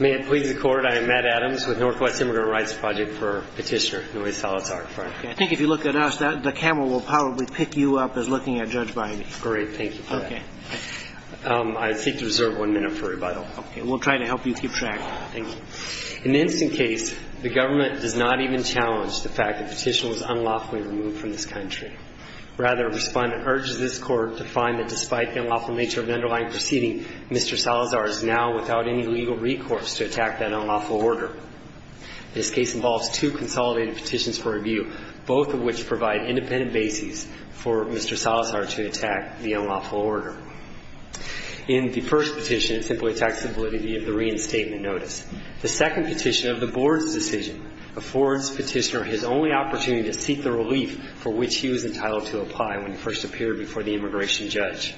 May it please the Court, I am Matt Adams with Northwest Immigrant Rights Project for Petitioner Noe Salazar-Frayre. I think if you look at us, the camera will probably pick you up as looking at Judge Biden. Great. Thank you for that. Okay. I seek to reserve one minute for rebuttal. Okay. We'll try to help you keep track. Thank you. In this case, the government does not even challenge the fact that Petitioner was unlawfully removed from this country. Rather, a respondent urges this Court to find that despite the unlawful nature of the underlying proceeding, Mr. Salazar is now without any legal recourse to attack that unlawful order. This case involves two consolidated petitions for review, both of which provide independent bases for Mr. Salazar to attack the unlawful order. In the first petition, it simply attacks the validity of the reinstatement notice. The second petition of the Board's decision affords Petitioner his only opportunity to seek the relief for which he was entitled to apply when he first appeared before the immigration judge.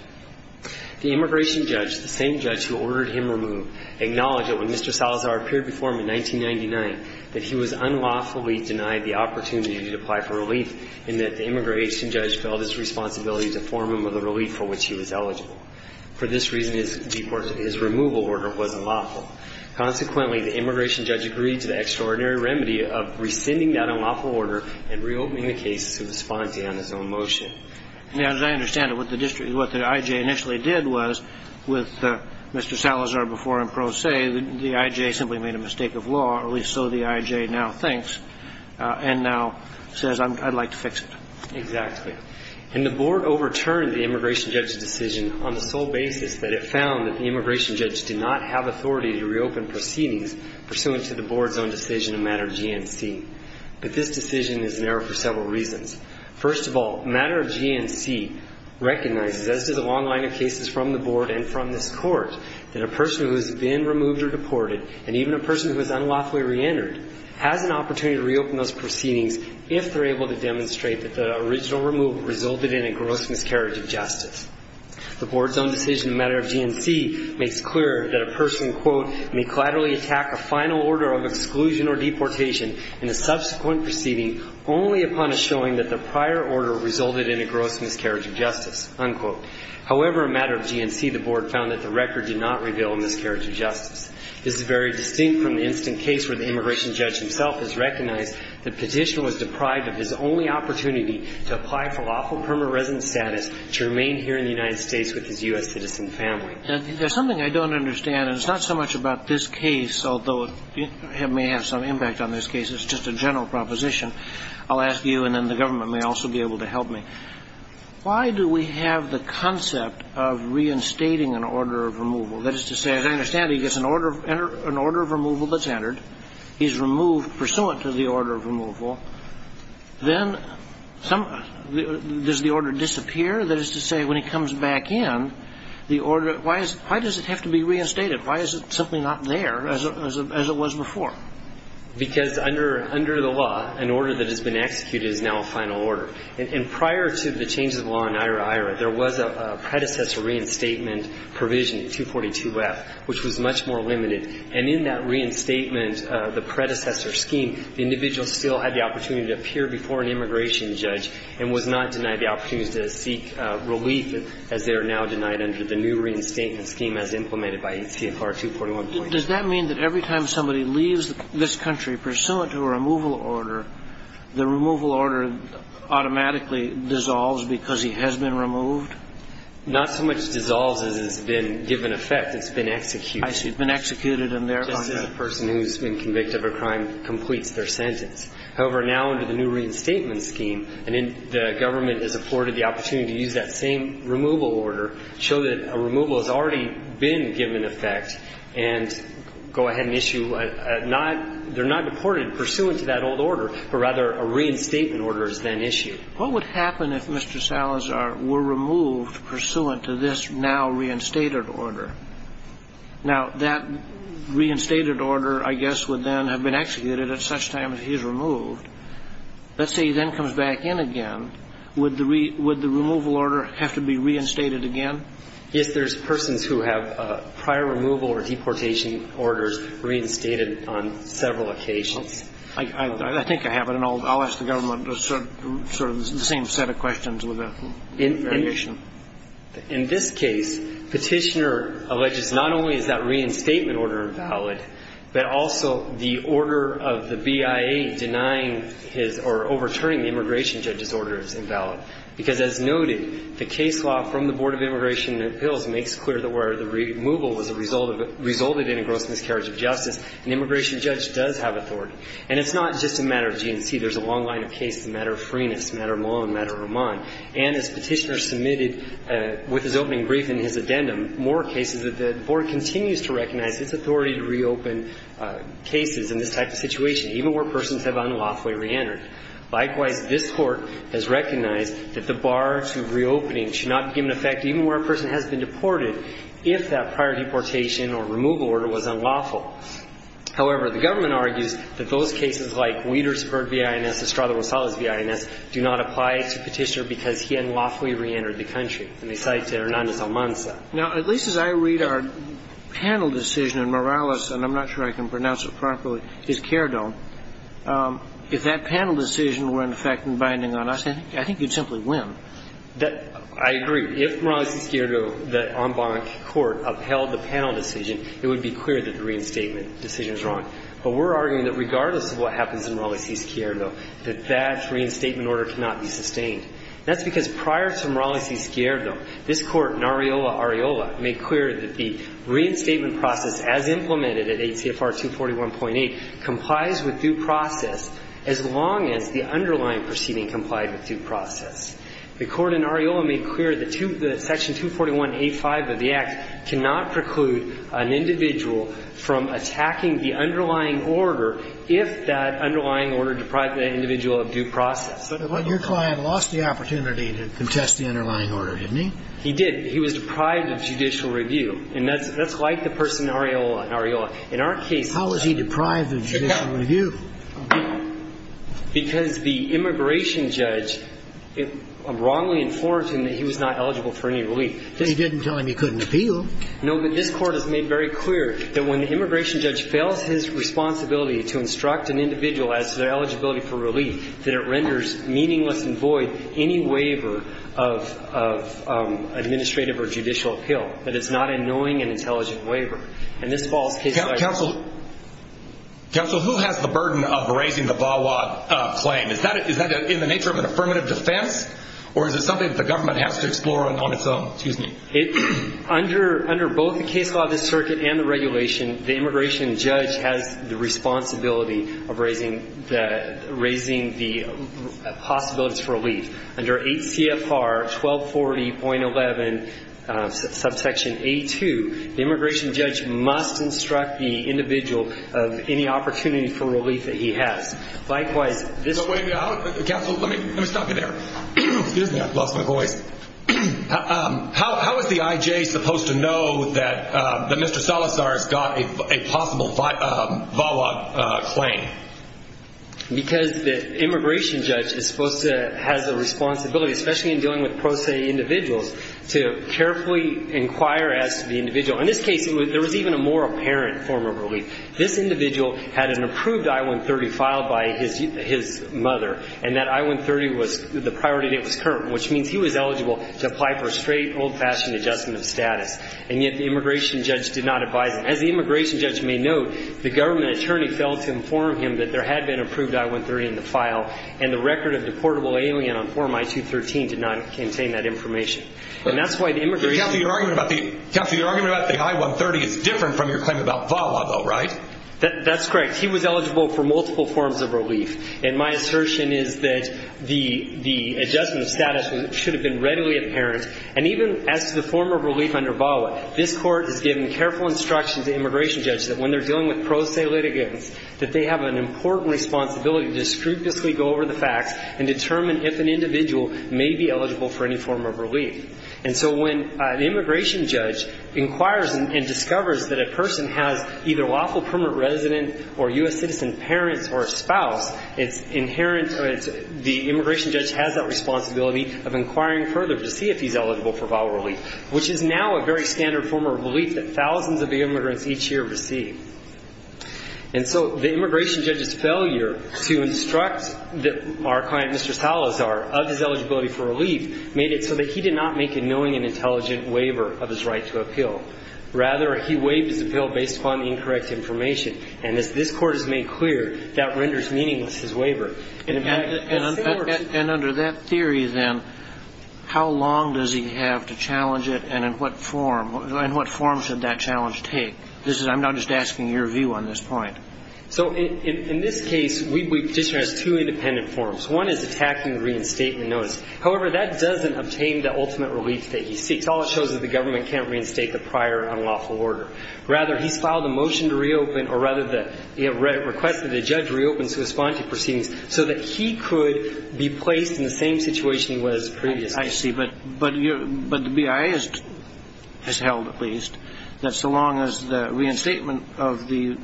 The immigration judge, the same judge who ordered him removed, acknowledged that when Mr. Salazar appeared before him in 1999, that he was unlawfully denied the opportunity to apply for relief and that the immigration judge felt it was his responsibility to form him with a relief for which he was eligible. For this reason, his removal order was unlawful. Consequently, the immigration judge agreed to the extraordinary remedy of rescinding that unlawful order and reopening the case to the respondent on his own motion. Now, as I understand it, what the district, what the IJ initially did was, with Mr. Salazar before him pro se, the IJ simply made a mistake of law, or at least so the IJ now thinks, and now says, I'd like to fix it. Exactly. And the Board overturned the immigration judge's decision on the sole basis that it found that the immigration judge did not have authority to reopen proceedings pursuant to the Board's own decision in matter of GMC. But this decision is in error for several reasons. First of all, matter of GMC recognizes, as does a long line of cases from the Board and from this Court, that a person who has been removed or deported, and even a person who is unlawfully reentered, has an opportunity to reopen those proceedings if they're able to demonstrate that the original removal resulted in a gross miscarriage of justice. The Board's own decision in matter of GMC makes clear that a person, quote, may collaterally attack a final order of exclusion or deportation in a subsequent proceeding only upon a showing that the prior order resulted in a gross miscarriage of justice, unquote. However, in matter of GMC, the Board found that the record did not reveal a miscarriage of justice. This is very distinct from the instant case where the immigration judge himself has recognized the petitioner was deprived of his only opportunity to apply for lawful permanent residence status to remain here in the United States with his U.S. citizen family. And there's something I don't understand, and it's not so much about this case, although it may have some impact on this case. It's just a general proposition. I'll ask you, and then the government may also be able to help me. Why do we have the concept of reinstating an order of removal? That is to say, as I understand it, he gets an order of removal that's entered. He's removed pursuant to the order of removal. Then some of the does the order disappear? That is to say, when he comes back in, the order why is why does it have to be reinstated? Why is it simply not there as it was before? Because under the law, an order that has been executed is now a final order. And prior to the changes of law in IHRA, IHRA, there was a predecessor reinstatement provision, 242F, which was much more limited. And in that reinstatement, the predecessor scheme, the individual still had the opportunity to appear before an immigration judge and was not denied the opportunity to seek relief, as they are now denied under the new reinstatement scheme as implemented by CFR 241.8. So does that mean that every time somebody leaves this country pursuant to a removal order, the removal order automatically dissolves because he has been removed? Not so much dissolves as it's been given effect. It's been executed. I see. It's been executed, and therefore the person who's been convicted of a crime completes their sentence. However, now under the new reinstatement scheme, the government is afforded the opportunity to use that same removal order, show that a removal has already been given effect, and go ahead and issue a not – they're not deported pursuant to that old order, but rather a reinstatement order is then issued. What would happen if Mr. Salazar were removed pursuant to this now-reinstated order? Now, that reinstated order, I guess, would then have been executed at such time as he is removed. Let's say he then comes back in again. Would the – would the removal order have to be reinstated again? Yes, there's persons who have prior removal or deportation orders reinstated on several occasions. I think I have it, and I'll ask the government sort of the same set of questions with a variation. In this case, Petitioner alleges not only is that reinstatement order invalid, but also the order of the BIA denying his or overturning the immigration judge's order is invalid. Because, as noted, the case law from the Board of Immigration and Appeals makes clear that where the removal was a result of – resulted in a gross miscarriage of justice, an immigration judge does have authority. And it's not just a matter of GNC. There's a long line of cases, a matter of Freenis, a matter of Mullen, a matter of Rahman. And as Petitioner submitted with his opening brief in his addendum, more cases that the Board continues to recognize its authority to reopen cases in this type of situation, even where persons have unlawfully reentered. Likewise, this Court has recognized that the bar to reopening should not be given effect even where a person has been deported if that prior deportation or removal order was unlawful. However, the government argues that those cases like Wietersburg v. INS, Estrada Rosales v. INS, do not apply to Petitioner because he unlawfully reentered the country. And they cite Hernandez-Almanza. Now, at least as I read our panel decision in Morales, and I'm not sure I can pronounce it properly, is Cairdo. If that panel decision were in effect and binding on us, I think you'd simply win. I agree. If Morales v. Cairdo, the en banc court, upheld the panel decision, it would be clear that the reinstatement decision is wrong. But we're arguing that regardless of what happens in Morales v. Cairdo, that that reinstatement order cannot be sustained. That's because prior to Morales v. Cairdo, this Court, in Areola v. Areola, made clear that Section 241.8 complies with due process as long as the underlying proceeding complied with due process. The Court in Areola made clear that Section 241a5 of the Act cannot preclude an individual from attacking the underlying order if that underlying order deprived that individual of due process. But your client lost the opportunity to contest the underlying order, didn't he? He did. And that's like the person in Areola. In Areola. In our case he was. How was he deprived of judicial review? Because the immigration judge wrongly informed him that he was not eligible for any relief. He didn't tell him he couldn't appeal. No, but this Court has made very clear that when the immigration judge fails his responsibility to instruct an individual as to their eligibility for relief, that it renders meaningless and void any waiver of administrative or judicial appeal, that it's not an annoying and intelligent waiver. And this falls case by case. Counsel, who has the burden of raising the VAWA claim? Is that in the nature of an affirmative defense? Or is it something that the government has to explore on its own? Excuse me. Under both the case law of this circuit and the regulation, the immigration judge has the responsibility of raising the possibilities for relief. Under 8 CFR 1240.11, subsection A2, the immigration judge must instruct the individual of any opportunity for relief that he has. Likewise, this. Wait a minute. Counsel, let me stop you there. Excuse me. I've lost my voice. How is the IJ supposed to know that Mr. Salazar has got a possible VAWA claim? Because the immigration judge is supposed to have the responsibility, especially in dealing with pro se individuals, to carefully inquire as to the individual. In this case, there was even a more apparent form of relief. This individual had an approved I-130 filed by his mother, and that I-130 was the priority date was current, which means he was eligible to apply for a straight, old-fashioned adjustment of status. And yet the immigration judge did not advise him. As the immigration judge may note, the government attorney failed to inform him that there had been approved I-130 in the file, and the record of the portable alien on form I-213 did not contain that information. Counsel, your argument about the I-130 is different from your claim about VAWA, though, right? That's correct. He was eligible for multiple forms of relief. And my assertion is that the adjustment of status should have been readily apparent. And even as to the form of relief under VAWA, this Court has given careful instruction to immigration judges that when they're dealing with pro se litigants, that they have an important responsibility to scrupulously go over the facts and determine if an individual may be eligible for any form of relief. And so when an immigration judge inquires and discovers that a person has either lawful permanent resident or U.S. citizen parents or a spouse, it's inherent that the immigration judge has that responsibility of inquiring further to see if he's eligible for VAWA relief, which is now a very standard form of relief that thousands of immigrants each year receive. And so the immigration judge's failure to instruct our client, Mr. Salazar, of his eligibility for relief made it so that he did not make a knowing and intelligent waiver of his right to appeal. Rather, he waived his appeal based upon incorrect information. And as this Court has made clear, that renders meaningless his waiver. And under that theory, then, how long does he have to challenge it, and in what form should that challenge take? I'm now just asking your view on this point. So in this case, we petitioner has two independent forms. One is attacking the reinstatement notice. However, that doesn't obtain the ultimate relief that he seeks. All it shows is the government can't reinstate the prior unlawful order. Rather, he's filed a motion to reopen, or rather he requested the judge reopen sui sponte proceedings so that he could be placed in the same situation he was previously. I see. But the BIA has held, at least, that so long as the reinstatement of the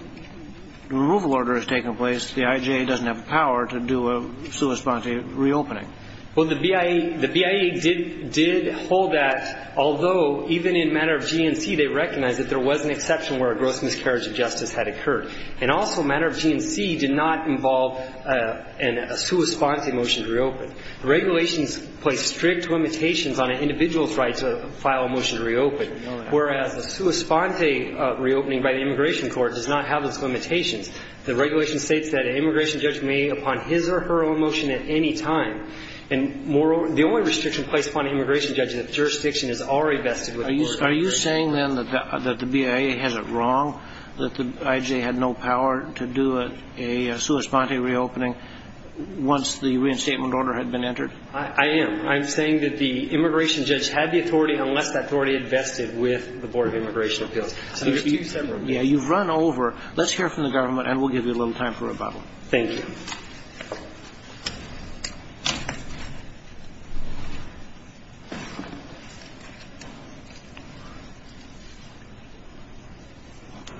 removal order has taken place, the IJA doesn't have the power to do a sui sponte reopening. Well, the BIA did hold that, although even in matter of GNC they recognized that there was an exception where a gross miscarriage of justice had occurred. And also, matter of GNC did not involve a sui sponte motion to reopen. The regulations place strict limitations on an individual's right to file a motion to reopen, whereas a sui sponte reopening by the immigration court does not have those limitations. The regulation states that an immigration judge may, upon his or her own motion at any time, and the only restriction placed upon an immigration judge is if jurisdiction is already vested with the court. Are you saying, then, that the BIA has it wrong, that the IJA had no power to do a sui sponte reopening once the reinstatement order had been entered? I am. I'm saying that the immigration judge had the authority unless that authority had vested with the Board of Immigration Appeals. So there's two separate rules. Yeah, you've run over. Let's hear from the government, and we'll give you a little time for rebuttal. Thank you.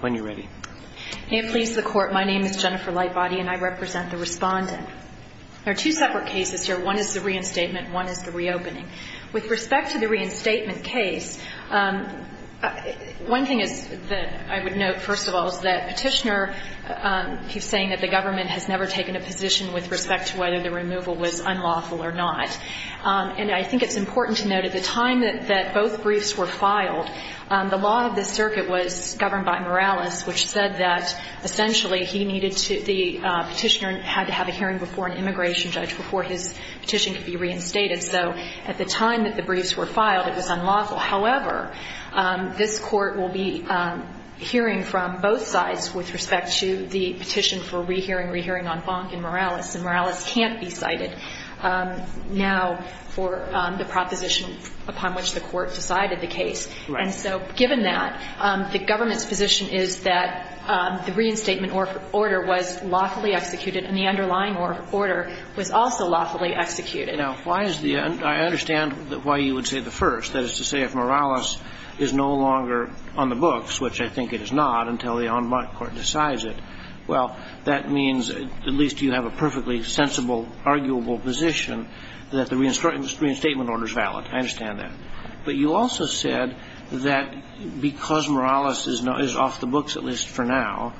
When you're ready. May it please the Court, my name is Jennifer Lightbody, and I represent the Respondent. There are two separate cases here. One is the reinstatement, one is the reopening. With respect to the reinstatement case, one thing is that I would note, first of all, is that Petitioner keeps saying that the government has never taken a position with respect to whether the removal was unlawful or not. And I think it's important to note, at the time that both briefs were filed, the law of this circuit was governed by Morales, which said that, essentially, the Petitioner had to have a hearing before an immigration judge before his petition could be reinstated. So at the time that the briefs were filed, it was unlawful. However, this Court will be hearing from both sides with respect to the petition for rehearing, rehearing en banc in Morales, and Morales can't be cited. Now, for the proposition upon which the Court decided the case. Right. And so, given that, the government's position is that the reinstatement order was lawfully executed, and the underlying order was also lawfully executed. Now, why is the end? I understand why you would say the first. That is to say, if Morales is no longer on the books, which I think it is not until the en banc Court decides it, well, that means at least you have a perfectly sensible, arguable position that the reinstatement order is valid. I understand that. But you also said that because Morales is off the books, at least for now,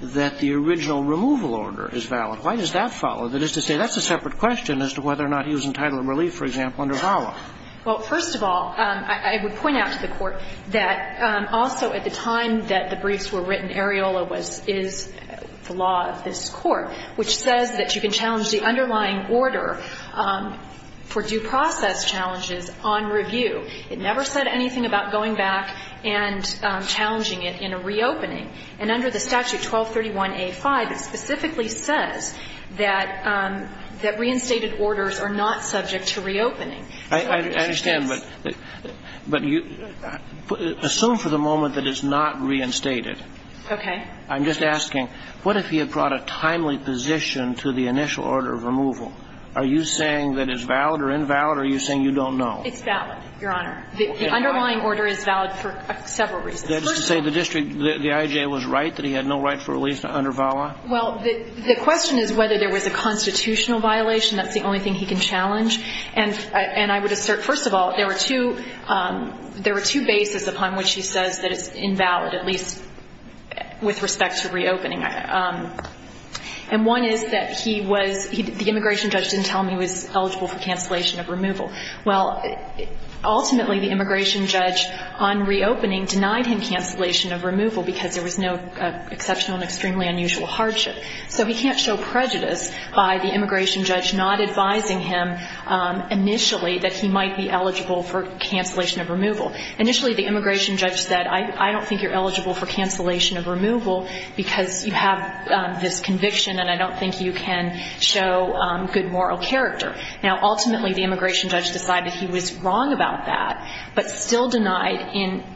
that the original removal order is valid. Why does that follow? That is to say, that's a separate question as to whether or not he was entitled to relief, for example, under VAWA. Well, first of all, I would point out to the Court that also at the time that the briefs were written, Areola was the law of this Court, which says that you can challenge the underlying order for due process challenges on review. It never said anything about going back and challenging it in a reopening. And under the statute 1231a5, it specifically says that reinstated orders are not subject to reopening. I understand, but assume for the moment that it's not reinstated. Okay. I'm just asking, what if he had brought a timely position to the initial order of removal? Are you saying that it's valid or invalid, or are you saying you don't know? It's valid, Your Honor. The underlying order is valid for several reasons. That is to say, the district, the I.J. was right that he had no right for relief under VAWA? Well, the question is whether there was a constitutional violation. That's the only thing he can challenge. And I would assert, first of all, there were two bases upon which he says that it's valid with respect to reopening. And one is that he was the immigration judge didn't tell him he was eligible for cancellation of removal. Well, ultimately, the immigration judge on reopening denied him cancellation of removal because there was no exceptional and extremely unusual hardship. So we can't show prejudice by the immigration judge not advising him initially that he might be eligible for cancellation of removal. Initially, the immigration judge said, I don't think you're eligible for cancellation of removal because you have this conviction, and I don't think you can show good moral character. Now, ultimately, the immigration judge decided he was wrong about that, but still denied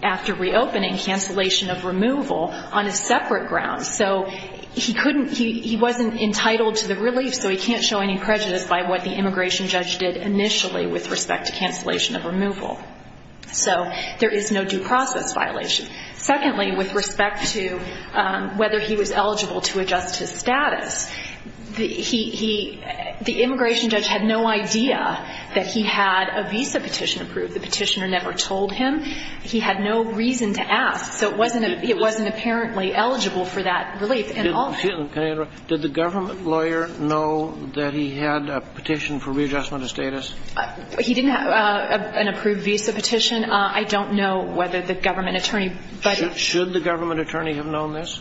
after reopening cancellation of removal on a separate ground. So he wasn't entitled to the relief, so he can't show any prejudice by what the immigration judge did initially with respect to cancellation of removal. So there is no due process violation. Secondly, with respect to whether he was eligible to adjust his status, the immigration judge had no idea that he had a visa petition approved. The petitioner never told him. He had no reason to ask. So it wasn't apparently eligible for that relief. Did the government lawyer know that he had a petition for readjustment of status? He didn't have an approved visa petition. I don't know whether the government attorney. Should the government attorney have known this?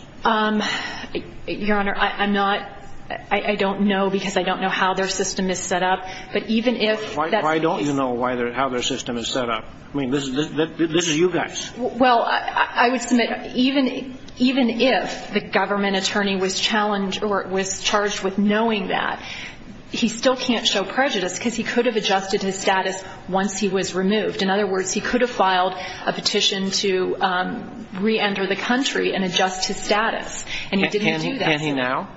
Your Honor, I don't know because I don't know how their system is set up. Why don't you know how their system is set up? I mean, this is you guys. Well, I would submit even if the government attorney was charged with knowing that, he still can't show prejudice because he could have adjusted his status once he was removed. In other words, he could have filed a petition to reenter the country and adjust his status, and he didn't do that. Can he now?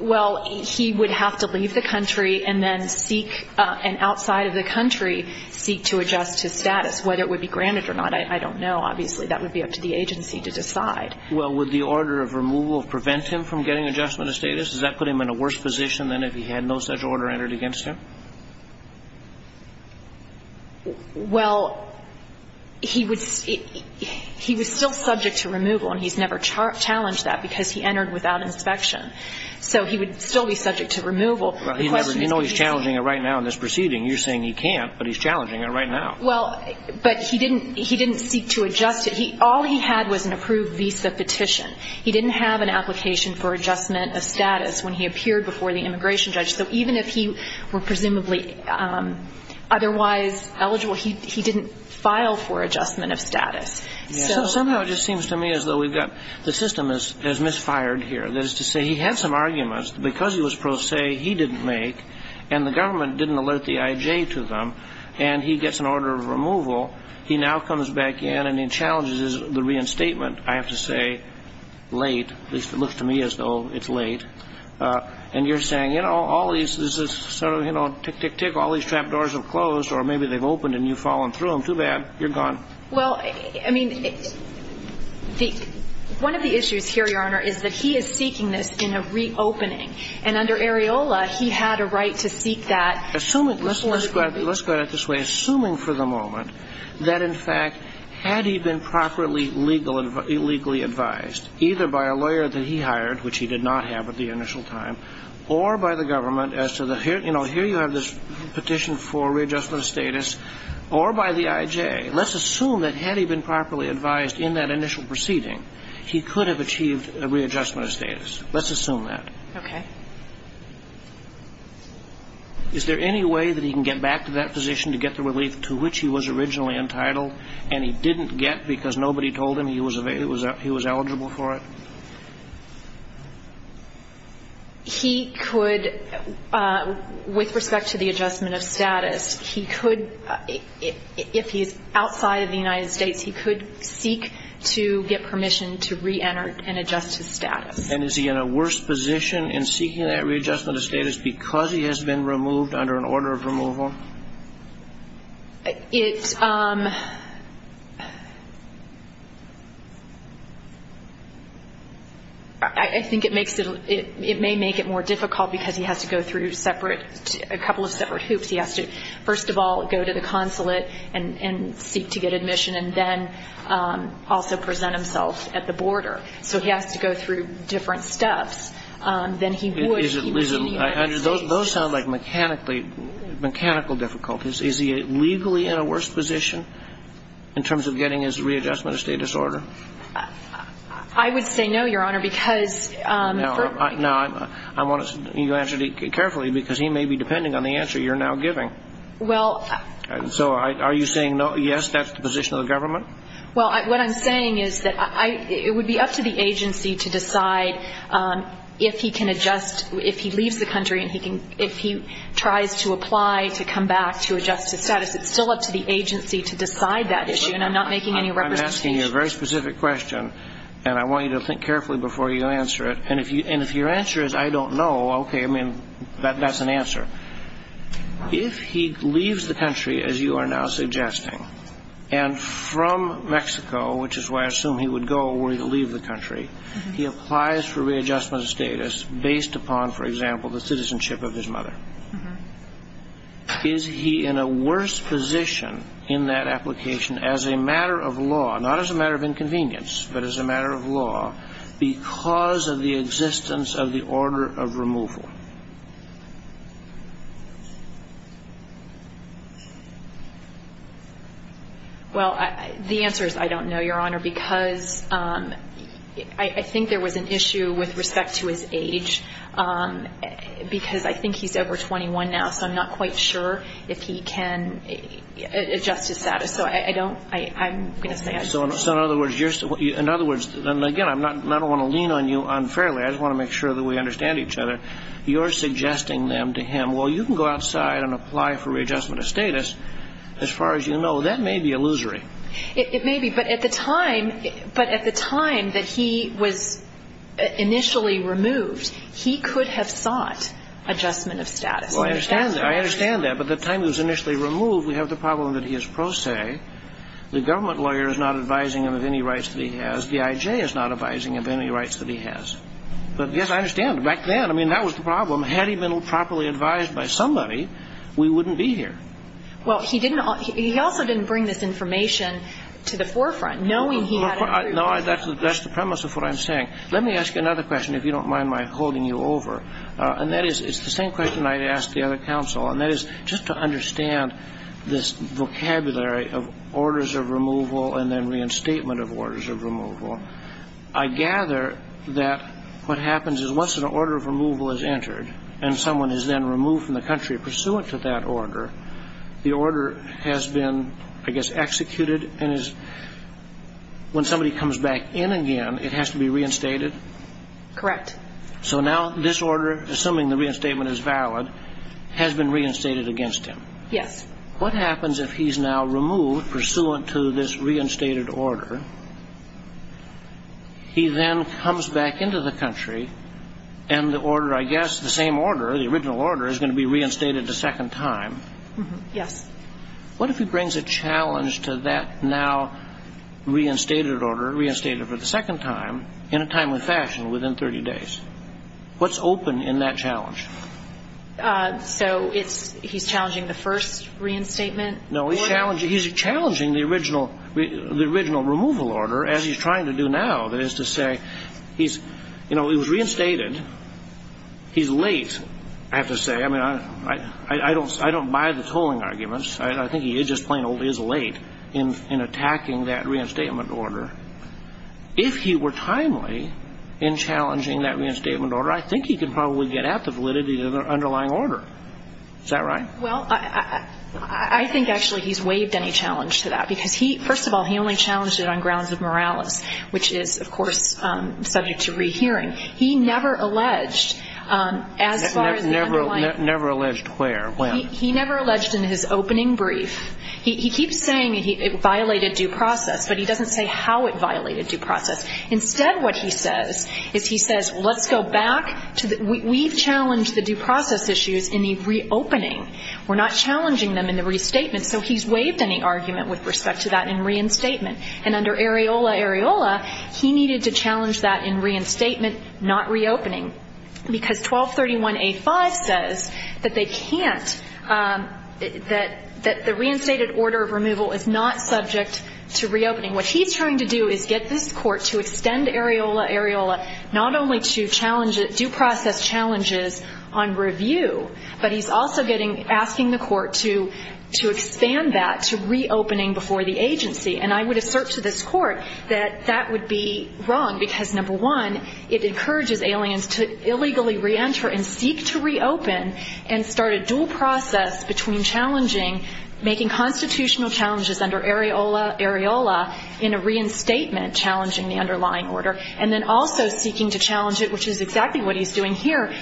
Well, he would have to leave the country and then seek and outside of the country seek to adjust his status. Whether it would be granted or not, I don't know. Obviously, that would be up to the agency to decide. Well, would the order of removal prevent him from getting adjustment of status? Does that put him in a worse position than if he had no such order entered against him? Well, he was still subject to removal, and he's never challenged that because he entered without inspection. So he would still be subject to removal. Well, you know he's challenging it right now in this proceeding. You're saying he can't, but he's challenging it right now. Well, but he didn't seek to adjust it. All he had was an approved visa petition. He didn't have an application for adjustment of status when he appeared before the immigration judge. So even if he were presumably otherwise eligible, he didn't file for adjustment of status. So somehow it just seems to me as though the system has misfired here. That is to say, he had some arguments. Because he was pro se, he didn't make, and the government didn't alert the IJ to them, and he gets an order of removal. He now comes back in and he challenges the reinstatement, I have to say, late. At least it looks to me as though it's late. And you're saying, you know, all these, this is sort of, you know, tick, tick, tick, all these trap doors have closed or maybe they've opened and you've fallen through them. Too bad. You're gone. Well, I mean, one of the issues here, Your Honor, is that he is seeking this in a reopening. And under Areola, he had a right to seek that. Assuming, let's go at it this way. Assuming for the moment that, in fact, had he been properly legally advised, either by a lawyer that he hired, which he did not have at the initial time, or by the government as to the, you know, here you have this petition for readjustment of status, or by the IJ, let's assume that had he been properly advised in that initial proceeding, he could have achieved a readjustment of status. Let's assume that. Okay. Is there any way that he can get back to that position to get the relief to which he was originally entitled and he didn't get because nobody told him he was eligible for it? He could, with respect to the adjustment of status, he could, if he's outside of the United States, he could seek to get permission to reenter and adjust his status. And is he in a worse position in seeking that readjustment of status because he has been removed under an order of removal? I think it may make it more difficult because he has to go through a couple of separate hoops. He has to, first of all, go to the consulate and seek to get admission and then also present himself at the border. So he has to go through different steps than he would if he was in the United States. Those sound like mechanical difficulties. Is he legally in a worse position in terms of getting his readjustment of status order? I would say no, Your Honor, because for me. No, I want you to answer carefully because he may be depending on the answer you're now giving. Well. Well, what I'm saying is that it would be up to the agency to decide if he can adjust, if he leaves the country and if he tries to apply to come back to adjusted status. It's still up to the agency to decide that issue, and I'm not making any representation. I'm asking you a very specific question, and I want you to think carefully before you answer it. And if your answer is I don't know, okay, I mean, that's an answer. If he leaves the country, as you are now suggesting, and from Mexico, which is where I assume he would go were he to leave the country, he applies for readjustment of status based upon, for example, the citizenship of his mother. Is he in a worse position in that application as a matter of law, not as a matter of inconvenience, but as a matter of law because of the existence of the order of removal? Well, the answer is I don't know, Your Honor, because I think there was an issue with respect to his age because I think he's over 21 now, so I'm not quite sure if he can adjust his status. So I don't, I'm going to say I don't know. So in other words, in other words, and again, I don't want to lean on you unfairly. I just want to make sure that we understand each other. You're suggesting then to him, well, you can go outside and apply for readjustment of status. As far as you know, that may be illusory. It may be, but at the time that he was initially removed, he could have sought adjustment of status. Well, I understand that, but the time he was initially removed, we have the problem that he is pro se. The government lawyer is not advising him of any rights that he has. D.I.J. is not advising him of any rights that he has. But, yes, I understand. Back then, I mean, that was the problem. Had he been properly advised by somebody, we wouldn't be here. Well, he didn't, he also didn't bring this information to the forefront, knowing he had a group. No, that's the premise of what I'm saying. Let me ask you another question, if you don't mind my holding you over, and that is it's the same question I'd ask the other counsel, and that is just to understand this vocabulary of orders of removal and then reinstatement of orders of removal. I gather that what happens is once an order of removal is entered and someone is then removed from the country pursuant to that order, the order has been, I guess, executed and is when somebody comes back in again, it has to be reinstated? Correct. So now this order, assuming the reinstatement is valid, has been reinstated against him? Yes. What happens if he's now removed pursuant to this reinstated order? He then comes back into the country and the order, I guess, the same order, the original order, is going to be reinstated a second time? Yes. What if he brings a challenge to that now reinstated order, reinstated for the second time, in a timely fashion within 30 days? What's open in that challenge? So he's challenging the first reinstatement order? No. He's challenging the original removal order as he's trying to do now, that is to say he's, you know, he was reinstated. He's late, I have to say. I mean, I don't buy the tolling arguments. I think he is just plain old late in attacking that reinstatement order. If he were timely in challenging that reinstatement order, I think he could probably get at the validity of the underlying order. Is that right? Well, I think actually he's waived any challenge to that because, first of all, he only challenged it on grounds of moralis, which is, of course, subject to rehearing. He never alleged as far as the underlying order. Never alleged where, when? He never alleged in his opening brief. He keeps saying it violated due process, but he doesn't say how it violated due process. Instead what he says is he says let's go back to the we've challenged the due process issues in the reopening. We're not challenging them in the restatement. So he's waived any argument with respect to that in reinstatement. And under Areola Areola, he needed to challenge that in reinstatement, not reopening. Because 1231A5 says that they can't, that the reinstated order of removal is not subject to reopening. What he's trying to do is get this court to extend Areola Areola not only to challenge due process challenges on review, but he's also getting, asking the court to expand that to reopening before the agency. And I would assert to this court that that would be wrong because, number one, it encourages aliens to illegally reenter and seek to reopen and start a dual process between challenging, making constitutional challenges under Areola Areola in a reinstatement challenging the underlying order, and then also seeking to challenge it, which is exactly what he's doing here,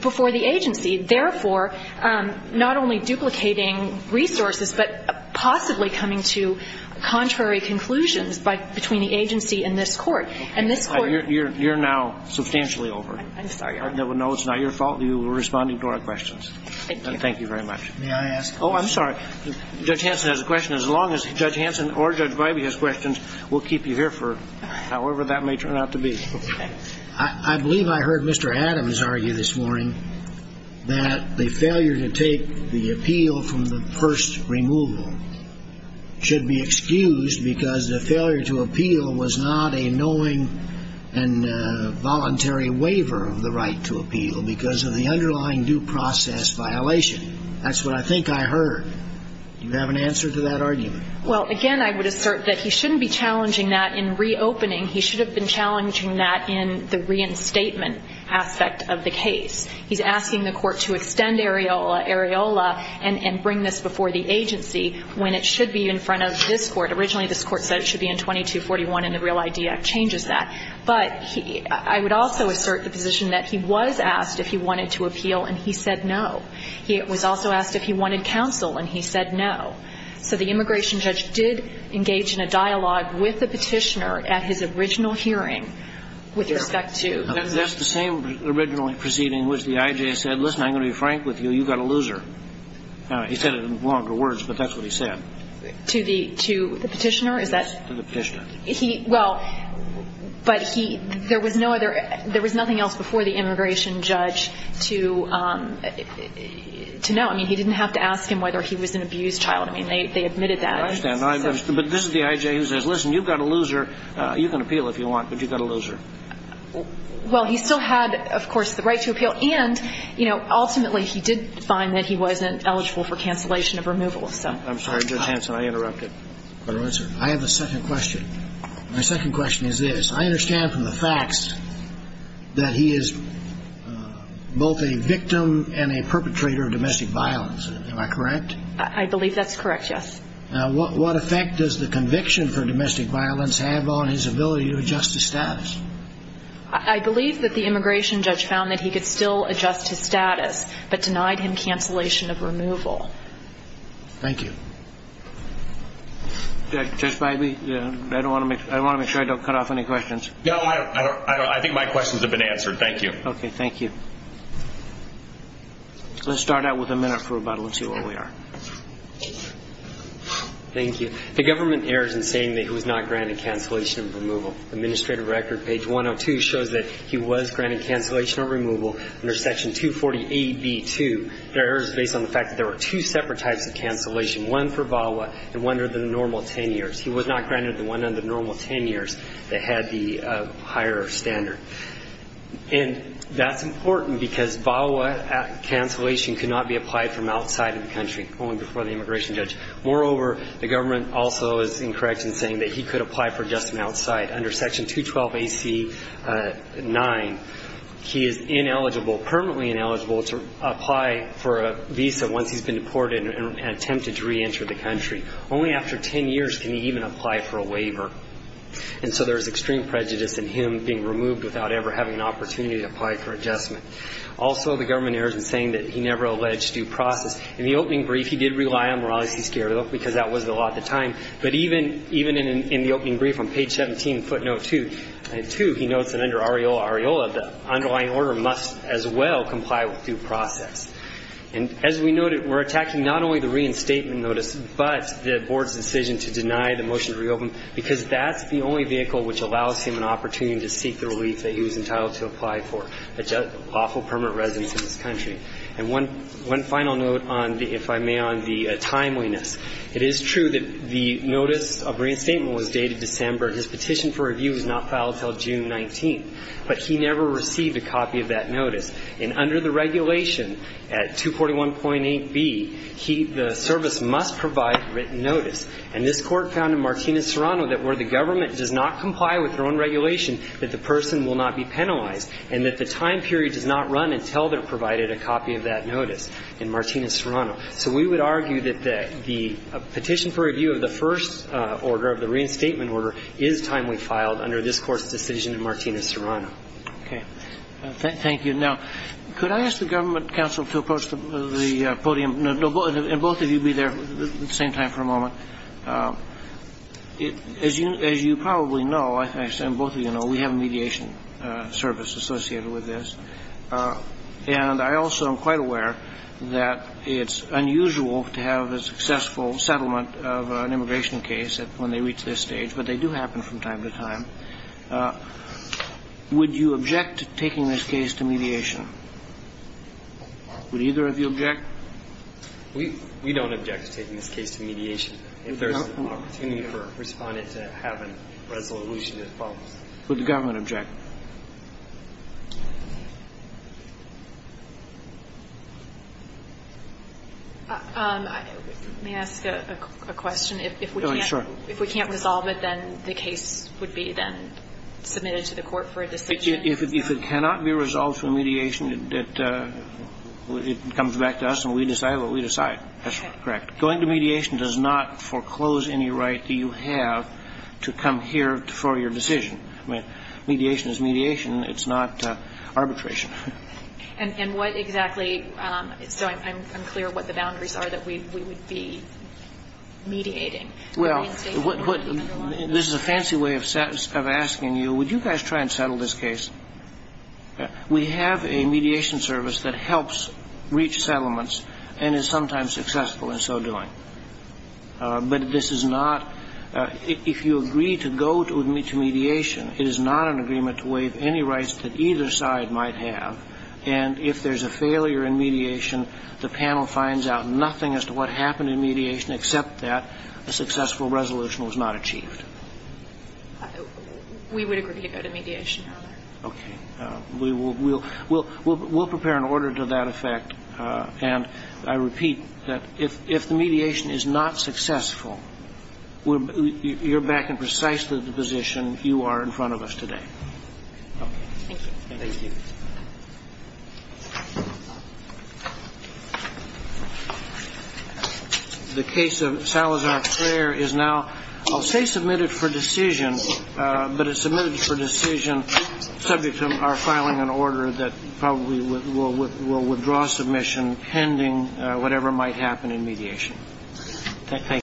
before the agency. Therefore, not only duplicating resources, but possibly coming to contrary conclusions between the agency and this court. And this court You're now substantially over. I'm sorry. No, it's not your fault. You were responding to our questions. Thank you. Thank you very much. May I ask a question? Oh, I'm sorry. Judge Hanson has a question. As long as Judge Hanson or Judge Vibey has questions, we'll keep you here for however that may turn out to be. Okay. I believe I heard Mr. Adams argue this morning that the failure to take the appeal from the first removal should be excused because the failure to appeal was not a knowing and voluntary waiver of the right to appeal because of the underlying due process violation. That's what I think I heard. Do you have an answer to that argument? Well, again, I would assert that he shouldn't be challenging that in reopening. He should have been challenging that in the reinstatement aspect of the case. He's asking the court to extend Areola Areola and bring this before the agency when it should be in front of this court. But originally, this court said it should be in 2241, and the Real ID Act changes that. But I would also assert the position that he was asked if he wanted to appeal, and he said no. He was also asked if he wanted counsel, and he said no. So the immigration judge did engage in a dialogue with the petitioner at his original hearing with respect to the case. That's the same original proceeding in which the I.J. said, listen, I'm going to be frank with you, you've got a loser. He said it in longer words, but that's what he said. To the petitioner? To the petitioner. Well, but there was nothing else before the immigration judge to know. I mean, he didn't have to ask him whether he was an abused child. I mean, they admitted that. I understand. But this is the I.J. who says, listen, you've got a loser. You can appeal if you want, but you've got a loser. Well, he still had, of course, the right to appeal. And, you know, ultimately he did find that he wasn't eligible for cancellation of removal. I'm sorry, Judge Hanson, I interrupted. I have a second question. My second question is this. I understand from the facts that he is both a victim and a perpetrator of domestic violence. Am I correct? I believe that's correct, yes. Now, what effect does the conviction for domestic violence have on his ability to adjust his status? I believe that the immigration judge found that he could still adjust his status, but denied him cancellation of removal. Thank you. Judge Bybee, I want to make sure I don't cut off any questions. No, I think my questions have been answered. Thank you. Okay, thank you. Let's start out with a minute for rebuttal and see where we are. The government errs in saying that he was not granted cancellation of removal. Administrative record, page 102, shows that he was granted cancellation of removal under section 248B-2. That error is based on the fact that there were two separate types of cancellation, one for VAWA and one under the normal 10 years. He was not granted the one under the normal 10 years that had the higher standard. And that's important because VAWA cancellation could not be applied from outside of the country, only before the immigration judge. Moreover, the government also is incorrect in saying that he could apply for adjustment outside. Under section 212AC-9, he is ineligible, permanently ineligible, to apply for a visa once he's been deported and attempted to reenter the country. Only after 10 years can he even apply for a waiver. And so there is extreme prejudice in him being removed without ever having an opportunity to apply for adjustment. Also, the government errors in saying that he never alleged due process. In the opening brief, he did rely on Morales-Escuero because that was the law at the time. But even in the opening brief on page 17, footnote 2, he notes that under AREOLA-AREOLA, the underlying order must as well comply with due process. And as we noted, we're attacking not only the reinstatement notice, but the board's decision to deny the motion to reopen because that's the only vehicle which allows him an opportunity to seek the relief that he was entitled to apply for, lawful permanent residence in this country. And one final note on the, if I may, on the timeliness. It is true that the notice of reinstatement was dated December. His petition for review was not filed until June 19. But he never received a copy of that notice. And under the regulation at 241.8b, the service must provide written notice. And this Court found in Martinez-Serrano that where the government does not comply with their own regulation, that the person will not be penalized and that the time period does not run until they're provided a copy of that notice in Martinez-Serrano. So we would argue that the petition for review of the first order, of the reinstatement order, is timely filed under this Court's decision in Martinez-Serrano. Okay. Thank you. Now, could I ask the government counsel to approach the podium? And both of you be there at the same time for a moment. As you probably know, and both of you know, we have a mediation service associated with this. And I also am quite aware that it's unusual to have a successful settlement of an immigration case when they reach this stage. But they do happen from time to time. Would you object to taking this case to mediation? Would either of you object? We don't object to taking this case to mediation. If there's an opportunity for a respondent to have a resolution that follows. Would the government object? May I ask a question? If we can't resolve it, then the case would be then submitted to the court for a decision? If it cannot be resolved through mediation, it comes back to us and we decide what we decide. That's correct. Going to mediation does not foreclose any right that you have to come here for your decision. I mean, mediation is mediation. It's not arbitration. And what exactly? So I'm clear what the boundaries are that we would be mediating. Well, this is a fancy way of asking you, would you guys try and settle this case? We have a mediation service that helps reach settlements and is sometimes successful in so doing. But this is not – if you agree to go to mediation, it is not an agreement to waive any rights that either side might have. And if there's a failure in mediation, the panel finds out nothing as to what happened in mediation except that a successful resolution was not achieved. We would agree to go to mediation, Your Honor. Okay. We'll prepare an order to that effect. And I repeat that if the mediation is not successful, you're back in precisely the position you are in front of us today. Okay. Thank you. Thank you. The case of Salazar Flair is now, I'll say submitted for decision, but it's submitted for decision subject to our filing an order that probably will withdraw submission pending whatever might happen in mediation. Thank you.